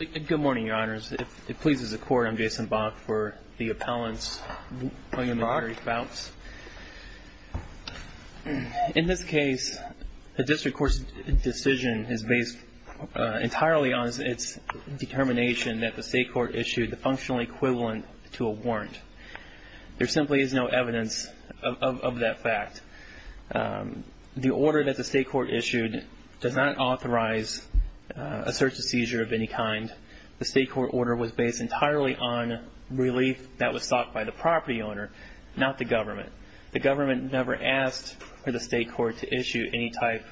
Good morning, Your Honors. If it pleases the Court, I'm Jason Bach for the Appellant's William and Mary Fouts. In this case, the district court's decision is based entirely on its determination that the state court issued the functional equivalent to a warrant. There simply is no evidence of that fact. The order that the state court issued does not authorize a search and seizure of any kind. The state court order was based entirely on relief that was sought by the property owner, not the government. The government never asked for the state court to issue any type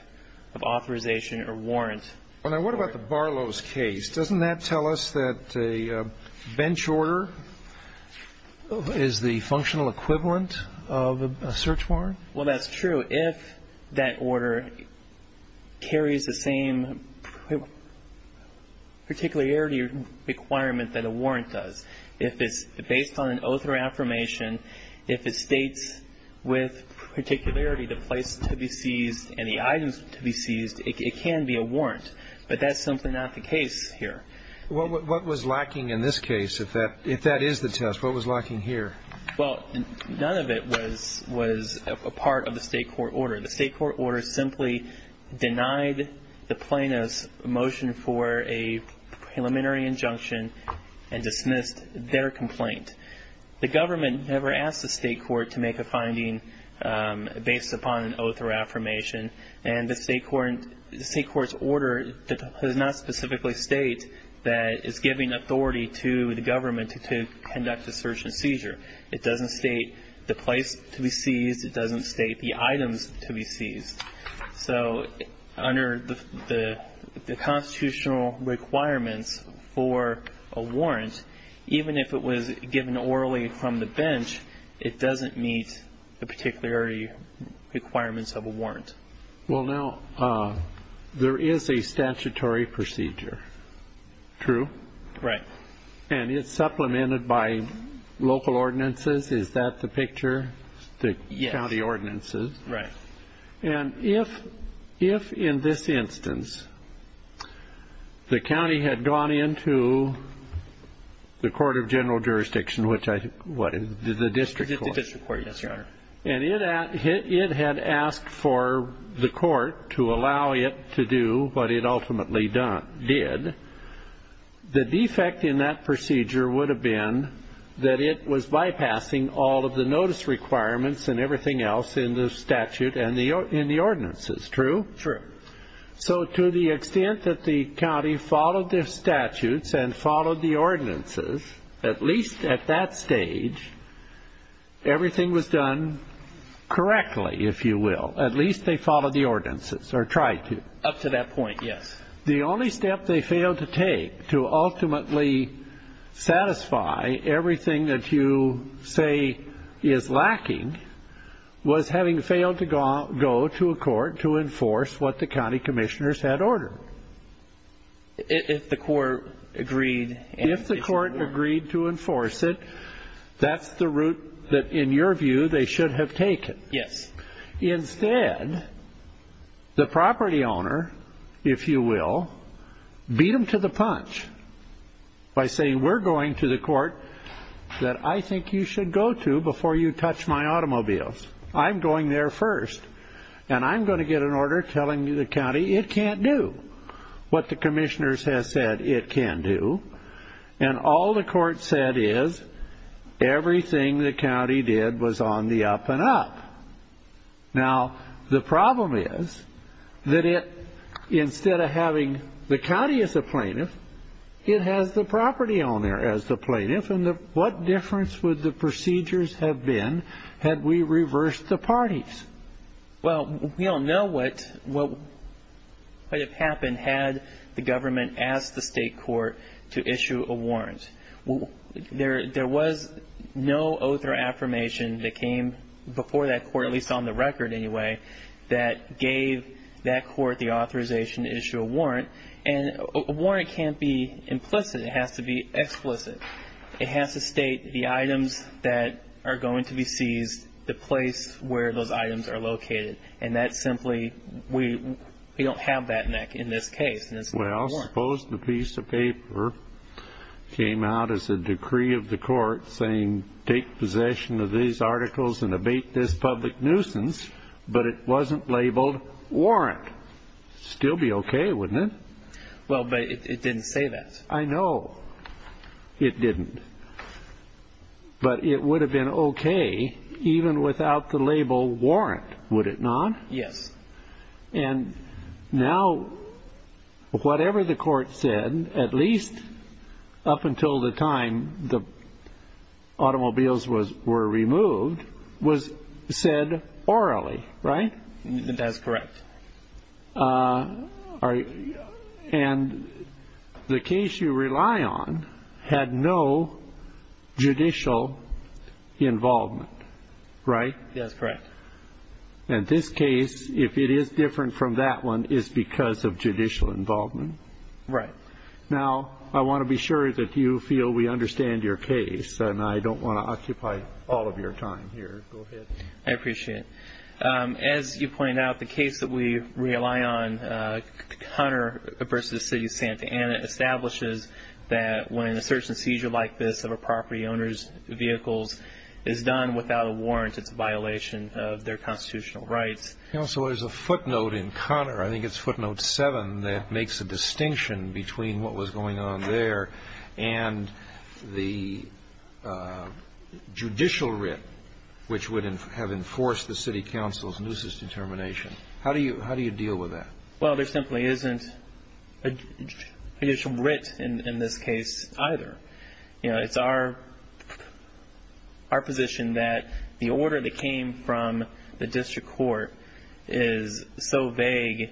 of authorization or warrant. Now, what about the Barlow's case? Doesn't that tell us that a bench order is the functional equivalent of a search warrant? Well, that's true. If that order carries the same particularity requirement that a warrant does. If it's based on an oath or affirmation, if it states with particularity the place to be seized and the items to be seized, it can be a warrant. But that's simply not the case here. What was lacking in this case? If that is the test, what was lacking here? Well, none of it was a part of the state court order. The state court order simply denied the plaintiff's motion for a preliminary injunction and dismissed their complaint. The government never asked the state court to make a finding based upon an oath or affirmation, and the state court's order does not specifically state that it's giving authority to the government to conduct a search and seizure. It doesn't state the place to be seized. It doesn't state the items to be seized. So under the constitutional requirements for a warrant, even if it was given orally from the bench, it doesn't meet the particularity requirements of a warrant. Well, now, there is a statutory procedure. True? Right. And it's supplemented by local ordinances. Is that the picture? Yes. The county ordinances. Right. And if in this instance the county had gone into the court of general jurisdiction, which I think, what, the district court? The district court, yes, Your Honor. And it had asked for the court to allow it to do what it ultimately did. The defect in that procedure would have been that it was bypassing all of the notice requirements and everything else in the statute and in the ordinances. True? True. So to the extent that the county followed the statutes and followed the ordinances, at least at that stage, everything was done correctly, if you will. At least they followed the ordinances or tried to. Up to that point, yes. The only step they failed to take to ultimately satisfy everything that you say is lacking was having failed to go to a court to enforce what the county commissioners had ordered. If the court agreed. If the court agreed to enforce it, that's the route that, in your view, they should have taken. Yes. Instead, the property owner, if you will, beat them to the punch by saying, we're going to the court that I think you should go to before you touch my automobiles. I'm going there first. And I'm going to get an order telling the county it can't do what the commissioners have said it can do. And all the court said is everything the county did was on the up and up. Now, the problem is that instead of having the county as a plaintiff, it has the property owner as the plaintiff. And what difference would the procedures have been had we reversed the parties? Well, we don't know what would have happened had the government asked the state court to issue a warrant. There was no oath or affirmation that came before that court, at least on the record anyway, that gave that court the authorization to issue a warrant. And a warrant can't be implicit. It has to be explicit. It has to state the items that are going to be seized, the place where those items are located. And that simply, we don't have that in this case. Well, suppose the piece of paper came out as a decree of the court saying, take possession of these articles and abate this public nuisance, but it wasn't labeled warrant. Still be okay, wouldn't it? Well, but it didn't say that. Yes, I know it didn't. But it would have been okay even without the label warrant, would it not? Yes. And now, whatever the court said, at least up until the time the automobiles were removed, was said orally, right? That's correct. And the case you rely on had no judicial involvement, right? That's correct. And this case, if it is different from that one, is because of judicial involvement. Right. Now, I want to be sure that you feel we understand your case, and I don't want to occupy all of your time here. Go ahead. I appreciate it. As you pointed out, the case that we rely on, Conner v. City of Santa Ana, establishes that when a search and seizure like this of a property owner's vehicles is done without a warrant, it's a violation of their constitutional rights. So there's a footnote in Conner, I think it's footnote 7, that makes a distinction between what was going on there and the judicial writ, which would have enforced the city council's nuisance determination. How do you deal with that? Well, there simply isn't a judicial writ in this case either. You know, it's our position that the order that came from the district court is so vague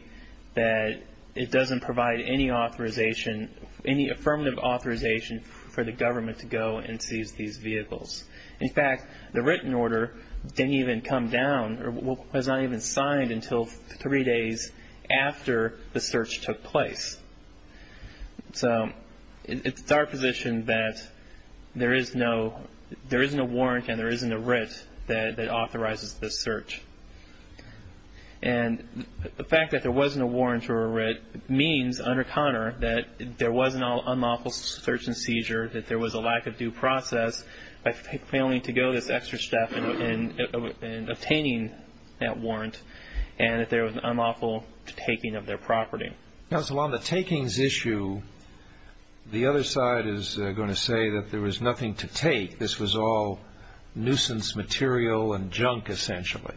that it doesn't provide any authorization, any affirmative authorization for the government to go and seize these vehicles. In fact, the written order didn't even come down or was not even signed until three days after the search took place. So it's our position that there is no warrant and there isn't a writ that authorizes this search. And the fact that there wasn't a warrant or a writ means under Conner that there was an unlawful search and seizure, that there was a lack of due process by failing to go this extra step in obtaining that warrant, and that there was an unlawful taking of their property. Now, so on the takings issue, the other side is going to say that there was nothing to take. This was all nuisance material and junk, essentially.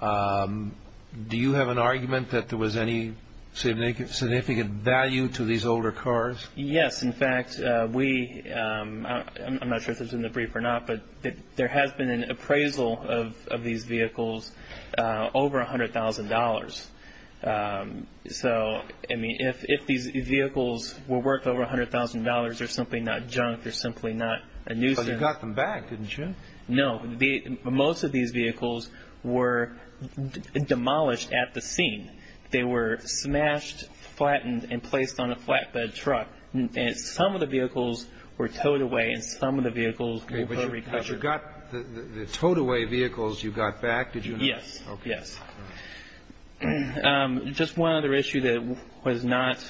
Do you have an argument that there was any significant value to these older cars? Yes. In fact, we – I'm not sure if this was in the brief or not, but there has been an appraisal of these vehicles over $100,000. So, I mean, if these vehicles were worth over $100,000, they're simply not junk. They're simply not a nuisance. But you got them back, didn't you? No. Most of these vehicles were demolished at the scene. They were smashed, flattened, and placed on a flatbed truck. And some of the vehicles were towed away, and some of the vehicles were recovered. But you got the towed-away vehicles, you got back, did you not? Yes. Okay. Yes. Just one other issue that was not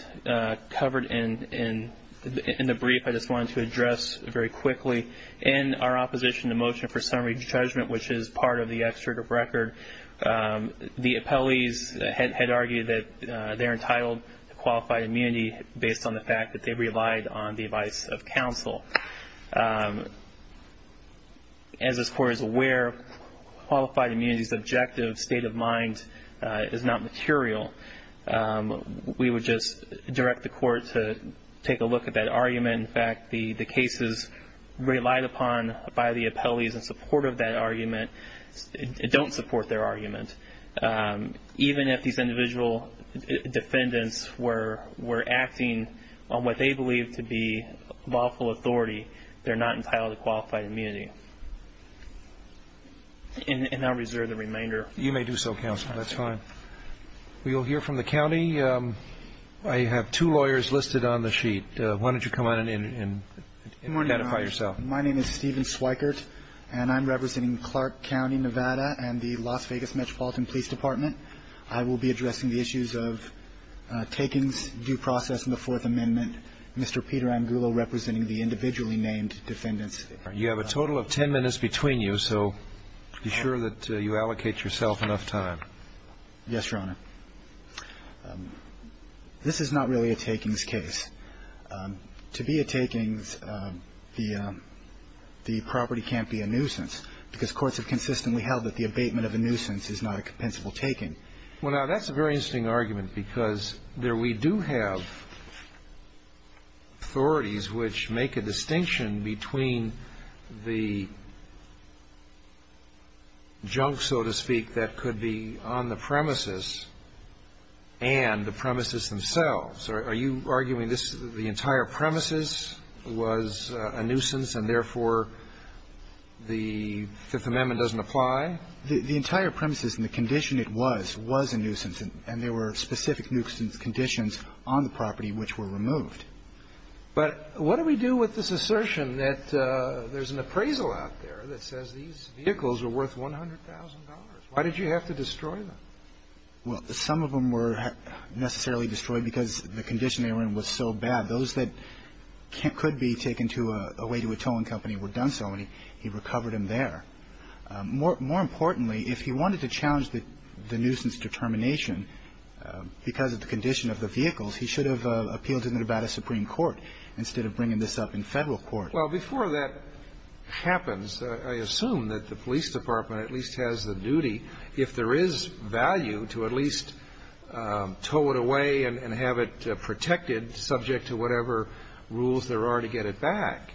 covered in the brief I just wanted to address very quickly. In our opposition to motion for summary judgment, which is part of the excerpt of record, the appellees had argued that they're entitled to qualified immunity based on the fact that they relied on the advice of counsel. As this Court is aware, qualified immunity's objective state of mind is not material. We would just direct the Court to take a look at that argument. In fact, the cases relied upon by the appellees in support of that argument don't support their argument. Even if these individual defendants were acting on what they believe to be lawful authority, they're not entitled to qualified immunity. And I'll reserve the remainder. You may do so, counsel. That's fine. We will hear from the county. I have two lawyers listed on the sheet. Why don't you come on in and identify yourself. My name is Steven Sweikert, and I'm representing Clark County, Nevada, and the Las Vegas Metropolitan Police Department. I will be addressing the issues of takings, due process, and the Fourth Amendment. Mr. Peter Angulo representing the individually named defendants. You have a total of 10 minutes between you, so be sure that you allocate yourself enough time. Yes, Your Honor. This is not really a takings case. To be a takings, the property can't be a nuisance, because courts have consistently held that the abatement of a nuisance is not a compensable taking. Well, now, that's a very interesting argument, because there we do have authorities which make a distinction between the junk, so to speak, that could be on the premises and the premises themselves. Are you arguing this, the entire premises was a nuisance and, therefore, the Fifth Amendment doesn't apply? The entire premises and the condition it was was a nuisance, and there were specific nuisance conditions on the property which were removed. But what do we do with this assertion that there's an appraisal out there that says these vehicles are worth $100,000? Why did you have to destroy them? Well, some of them were necessarily destroyed because the condition they were in was so bad, those that could be taken to a way to a towing company were done so, and he recovered them there. More importantly, if he wanted to challenge the nuisance determination because of the condition of the vehicles, he should have appealed to Nevada Supreme Court instead of bringing this up in Federal court. Well, before that happens, I assume that the police department at least has the duty if there is value to at least tow it away and have it protected subject to whatever rules there are to get it back.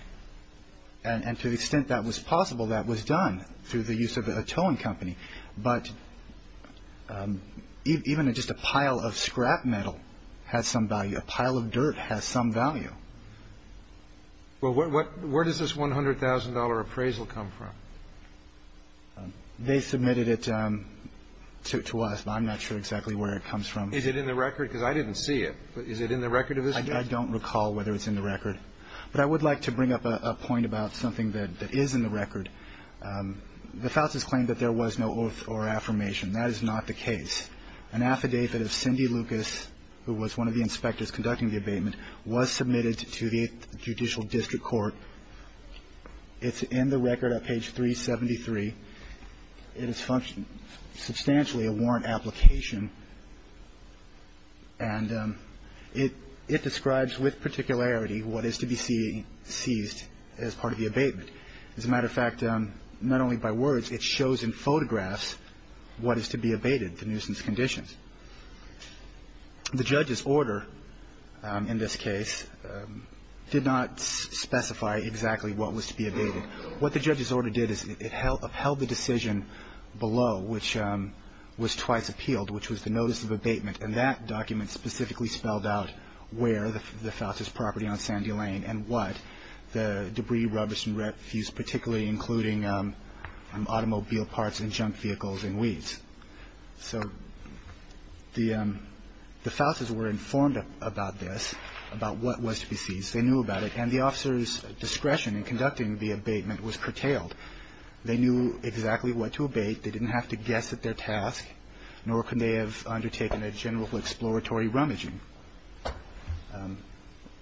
And to the extent that was possible, that was done through the use of a towing company. But even just a pile of scrap metal has some value. A pile of dirt has some value. Well, where does this $100,000 appraisal come from? They submitted it to us, but I'm not sure exactly where it comes from. Is it in the record? Because I didn't see it. Is it in the record of this case? I don't recall whether it's in the record. But I would like to bring up a point about something that is in the record. The Fousas claimed that there was no oath or affirmation. That is not the case. An affidavit of Cindy Lucas, who was one of the inspectors conducting the abatement, was submitted to the Judicial District Court. It's in the record at page 373. It is substantially a warrant application. And it describes with particularity what is to be seized as part of the abatement. As a matter of fact, not only by words, it shows in photographs what is to be abated, the nuisance conditions. The judge's order in this case did not specify exactly what was to be abated. What the judge's order did is it upheld the decision below, which was twice appealed, which was the notice of abatement. And that document specifically spelled out where the Fousas property on Sandy Lane and what the debris, rubbish, and refuse, particularly including automobile parts and junk vehicles and weeds. So the Fousas were informed about this, about what was to be seized. They knew about it. And the officer's discretion in conducting the abatement was curtailed. They knew exactly what to abate. They didn't have to guess at their task, nor could they have undertaken a general exploratory rummaging.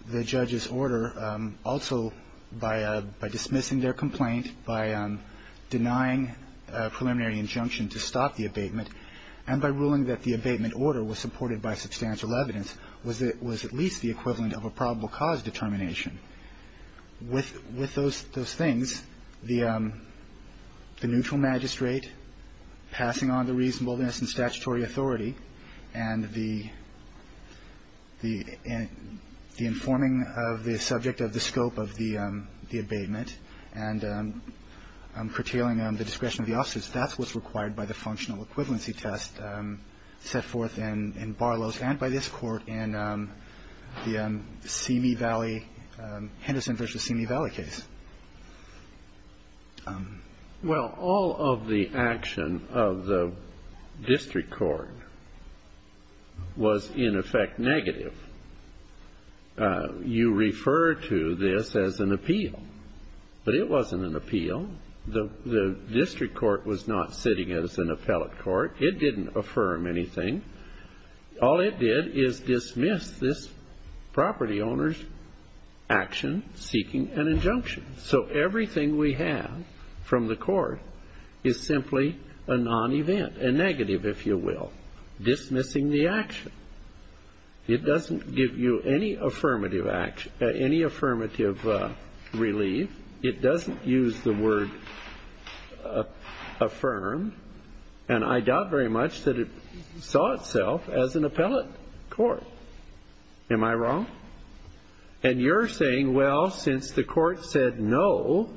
The judge's order also, by dismissing their complaint, by denying a preliminary injunction to stop the abatement, and by ruling that the abatement order was supported by substantial evidence, was at least the equivalent of a probable cause determination. With those things, the neutral magistrate passing on the reasonableness and statutory authority and the informing of the subject of the scope of the abatement and curtailing the discretion of the officers, that's what's required by the functional equivalency test set forth in Barlow's and by this Court in the Simi Valley, Henderson v. Simi Valley case. Well, all of the action of the district court was in effect negative. You refer to this as an appeal, but it wasn't an appeal. The district court was not sitting as an appellate court. It didn't affirm anything. All it did is dismiss this property owner's action seeking an injunction. So everything we have from the court is simply a non-event, a negative, if you will, dismissing the action. It doesn't give you any affirmative relief. It doesn't use the word affirm. And I doubt very much that it saw itself as an appellate court. Am I wrong? And you're saying, well, since the court said no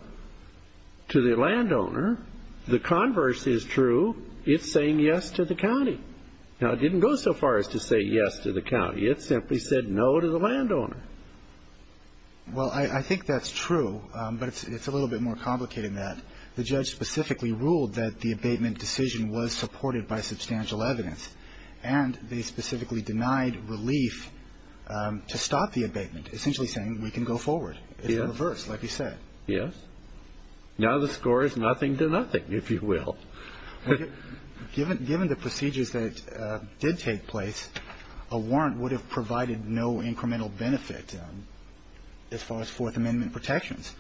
to the landowner, the converse is true. It's saying yes to the county. Now, it didn't go so far as to say yes to the county. It simply said no to the landowner. Well, I think that's true, but it's a little bit more complicated than that. The judge specifically ruled that the abatement decision was supported by substantial evidence, and they specifically denied relief to stop the abatement, essentially saying we can go forward. It's the reverse, like you said. Yes. Now the score is nothing to nothing, if you will. Well, given the procedures that did take place, a warrant would have provided no incremental benefit as far as Fourth Amendment protections.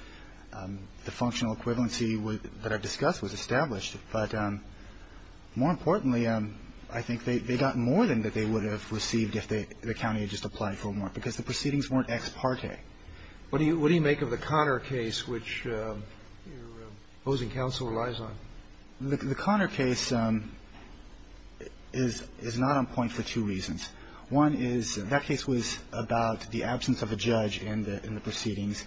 The functional equivalency that I've discussed was established, but more importantly, I think they got more than they would have received if the county had just applied for a warrant, because the proceedings weren't ex parte. Okay. What do you make of the Conner case, which your opposing counsel relies on? The Conner case is not on point for two reasons. One is that case was about the absence of a judge in the proceedings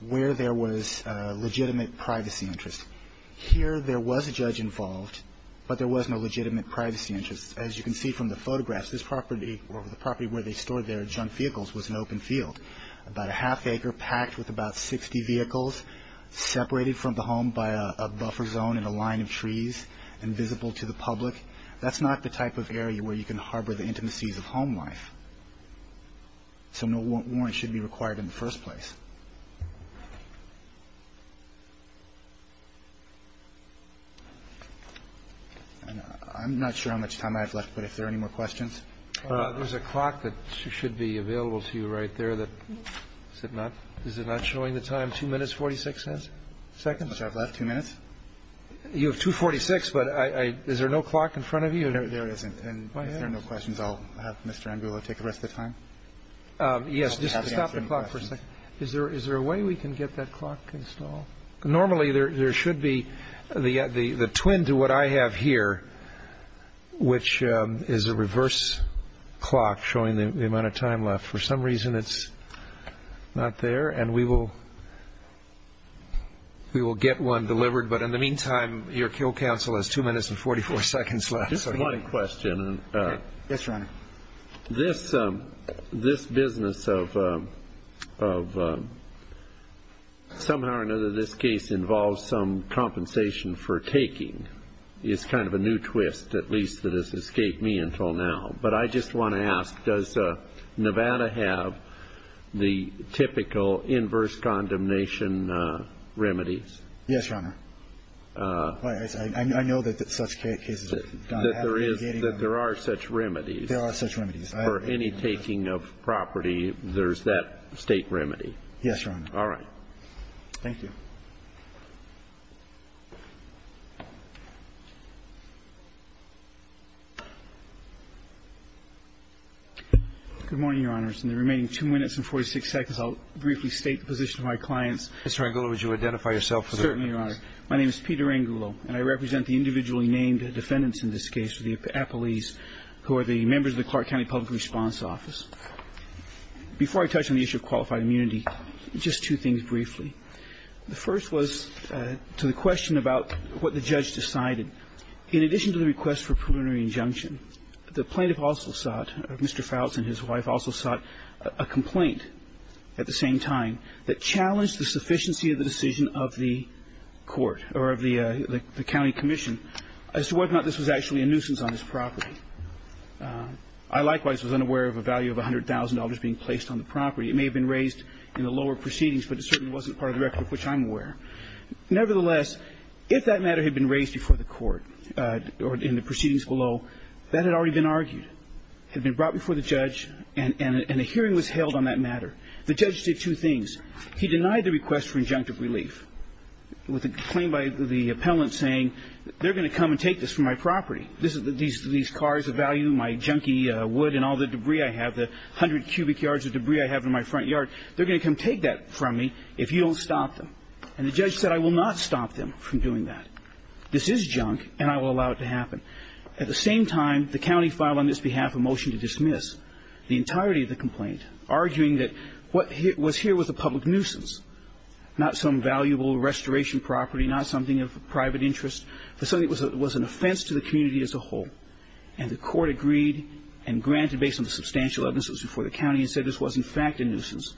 where there was legitimate privacy interest. Here there was a judge involved, but there was no legitimate privacy interest. As you can see from the photographs, this property or the property where they stored their junk vehicles was an open field, about a half acre packed with about 60 vehicles separated from the home by a buffer zone and a line of trees and visible to the public. That's not the type of area where you can harbor the intimacies of home life. So no warrant should be required in the first place. I'm not sure how much time I have left, but if there are any more questions. There's a clock that should be available to you right there. Is it not showing the time? Two minutes, 46 minutes? Second. I have two minutes. You have 2.46, but is there no clock in front of you? There isn't. If there are no questions, I'll have Mr. Angulo take the rest of the time. Yes. Just stop the clock for a second. Is there a way we can get that clock installed? Normally, there should be the twin to what I have here, which is a reverse clock showing the amount of time left. For some reason, it's not there, and we will get one delivered. But in the meantime, your Kill Council has two minutes and 44 seconds left. Just one question. Yes, Your Honor. This business of somehow or another this case involves some compensation for taking is kind of a new twist, at least that has escaped me until now. But I just want to ask, does Nevada have the typical inverse condemnation remedies? Yes, Your Honor. I know that such cases have happened. That there are such remedies. There are such remedies. For any taking of property, there's that State remedy. Yes, Your Honor. All right. Thank you. Good morning, Your Honors. In the remaining 2 minutes and 46 seconds, I'll briefly state the position of my clients. Mr. Angulo, would you identify yourself for the record? Certainly, Your Honor. My name is Peter Angulo, and I represent the individually named defendants in this case, the appellees, who are the members of the Clark County Public Response Office. Before I touch on the issue of qualified immunity, just two things briefly. The first was to the question about what the judge decided. In addition to the request for a preliminary injunction, the plaintiff also sought Mr. Fouts and his wife also sought a complaint at the same time that challenged the sufficiency of the decision of the court or of the county commission as to whether or not this was actually a nuisance on his property. I, likewise, was unaware of a value of $100,000 being placed on the property. It may have been raised in the lower proceedings, but it certainly wasn't part of the record of which I'm aware. Nevertheless, if that matter had been raised before the court or in the proceedings below, that had already been argued, had been brought before the judge, and a hearing was held on that matter. The judge did two things. He denied the request for injunctive relief with a claim by the appellant saying they're going to come and take this from my property. These cars of value, my junky wood and all the debris I have, the 100 cubic yards of debris I have in my front yard, they're going to come take that from me if you don't stop them. And the judge said I will not stop them from doing that. This is junk, and I will allow it to happen. At the same time, the county filed on this behalf a motion to dismiss the entirety of the complaint, arguing that what was here was a public nuisance, not some valuable restoration property, not something of private interest, but something that was an offense to the community as a whole. And the court agreed and granted, based on the substantial evidence that was before the county, and said this was, in fact, a nuisance.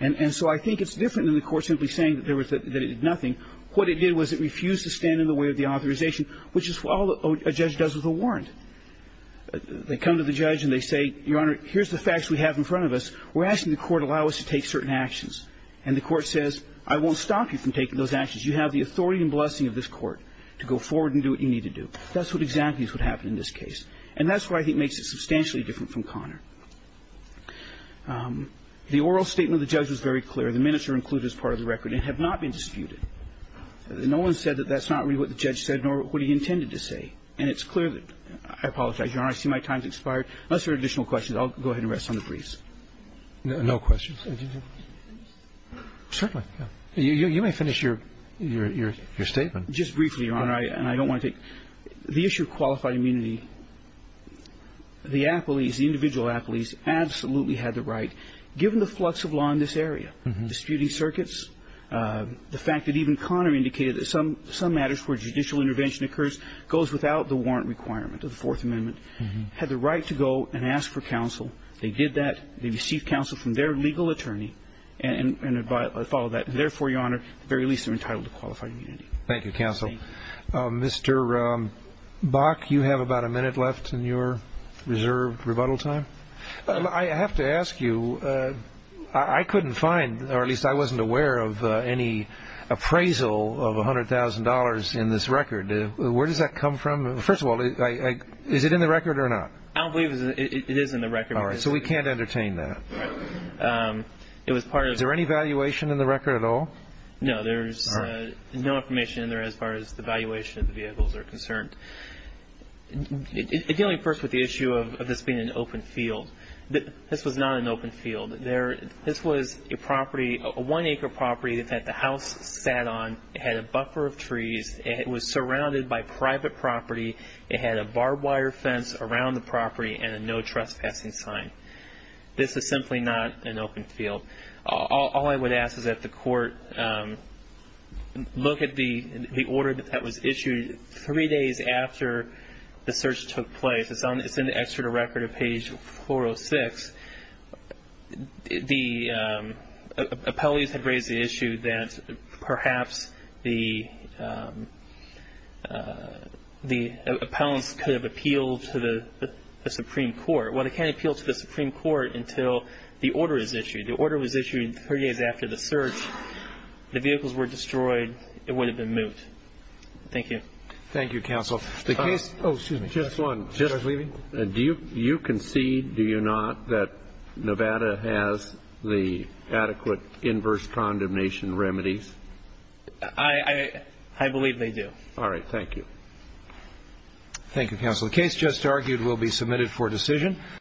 And so I think it's different than the court simply saying that it did nothing. What it did was it refused to stand in the way of the authorization, which is all a judge does with a warrant. They come to the judge and they say, Your Honor, here's the facts we have in front of us. We're asking the court to allow us to take certain actions. And the court says, I won't stop you from taking those actions. You have the authority and blessing of this court to go forward and do what you need to do. That's what exactly is what happened in this case. And that's what I think makes it substantially different from Connor. The oral statement of the judge was very clear. The minutes are included as part of the record and have not been disputed. No one said that that's not really what the judge said nor what he intended to say. And it's clear that I apologize, Your Honor. I see my time has expired. Unless there are additional questions, I'll go ahead and rest on the briefs. No questions. Certainly. You may finish your statement. Just briefly, Your Honor, and I don't want to take the issue of qualified immunity. The appellees, the individual appellees, absolutely had the right, given the flux of law in this area, disputing circuits, the fact that even Connor indicated that some matters where judicial intervention occurs goes without the warrant requirement of the Fourth Amendment. Had the right to go and ask for counsel. They did that. They received counsel from their legal attorney and followed that. Therefore, Your Honor, at the very least, they're entitled to qualified immunity. Thank you, counsel. Mr. Bach, you have about a minute left in your reserved rebuttal time. I have to ask you, I couldn't find, or at least I wasn't aware of any appraisal of $100,000 in this record. Where does that come from? First of all, is it in the record or not? I don't believe it is in the record. All right. So we can't entertain that. Is there any valuation in the record at all? No, there's no information in there as far as the valuation of the vehicles are concerned. Dealing first with the issue of this being an open field, this was not an open field. This was a property, a one-acre property that the house sat on. It had a buffer of trees. It was surrounded by private property. It had a barbed wire fence around the property and a no trespassing sign. This is simply not an open field. All I would ask is that the court look at the order that was issued three days after the search took place. It's in the Exeter record at page 406. The appellees had raised the issue that perhaps the appellants could have appealed to the Supreme Court. Well, they can't appeal to the Supreme Court until the order is issued. The order was issued three days after the search. The vehicles were destroyed. It would have been moot. Thank you. Thank you, counsel. Just one. Do you concede, do you not, that Nevada has the adequate inverse condemnation remedies? I believe they do. All right. Thank you. Thank you, counsel. The case just argued will be submitted for decision.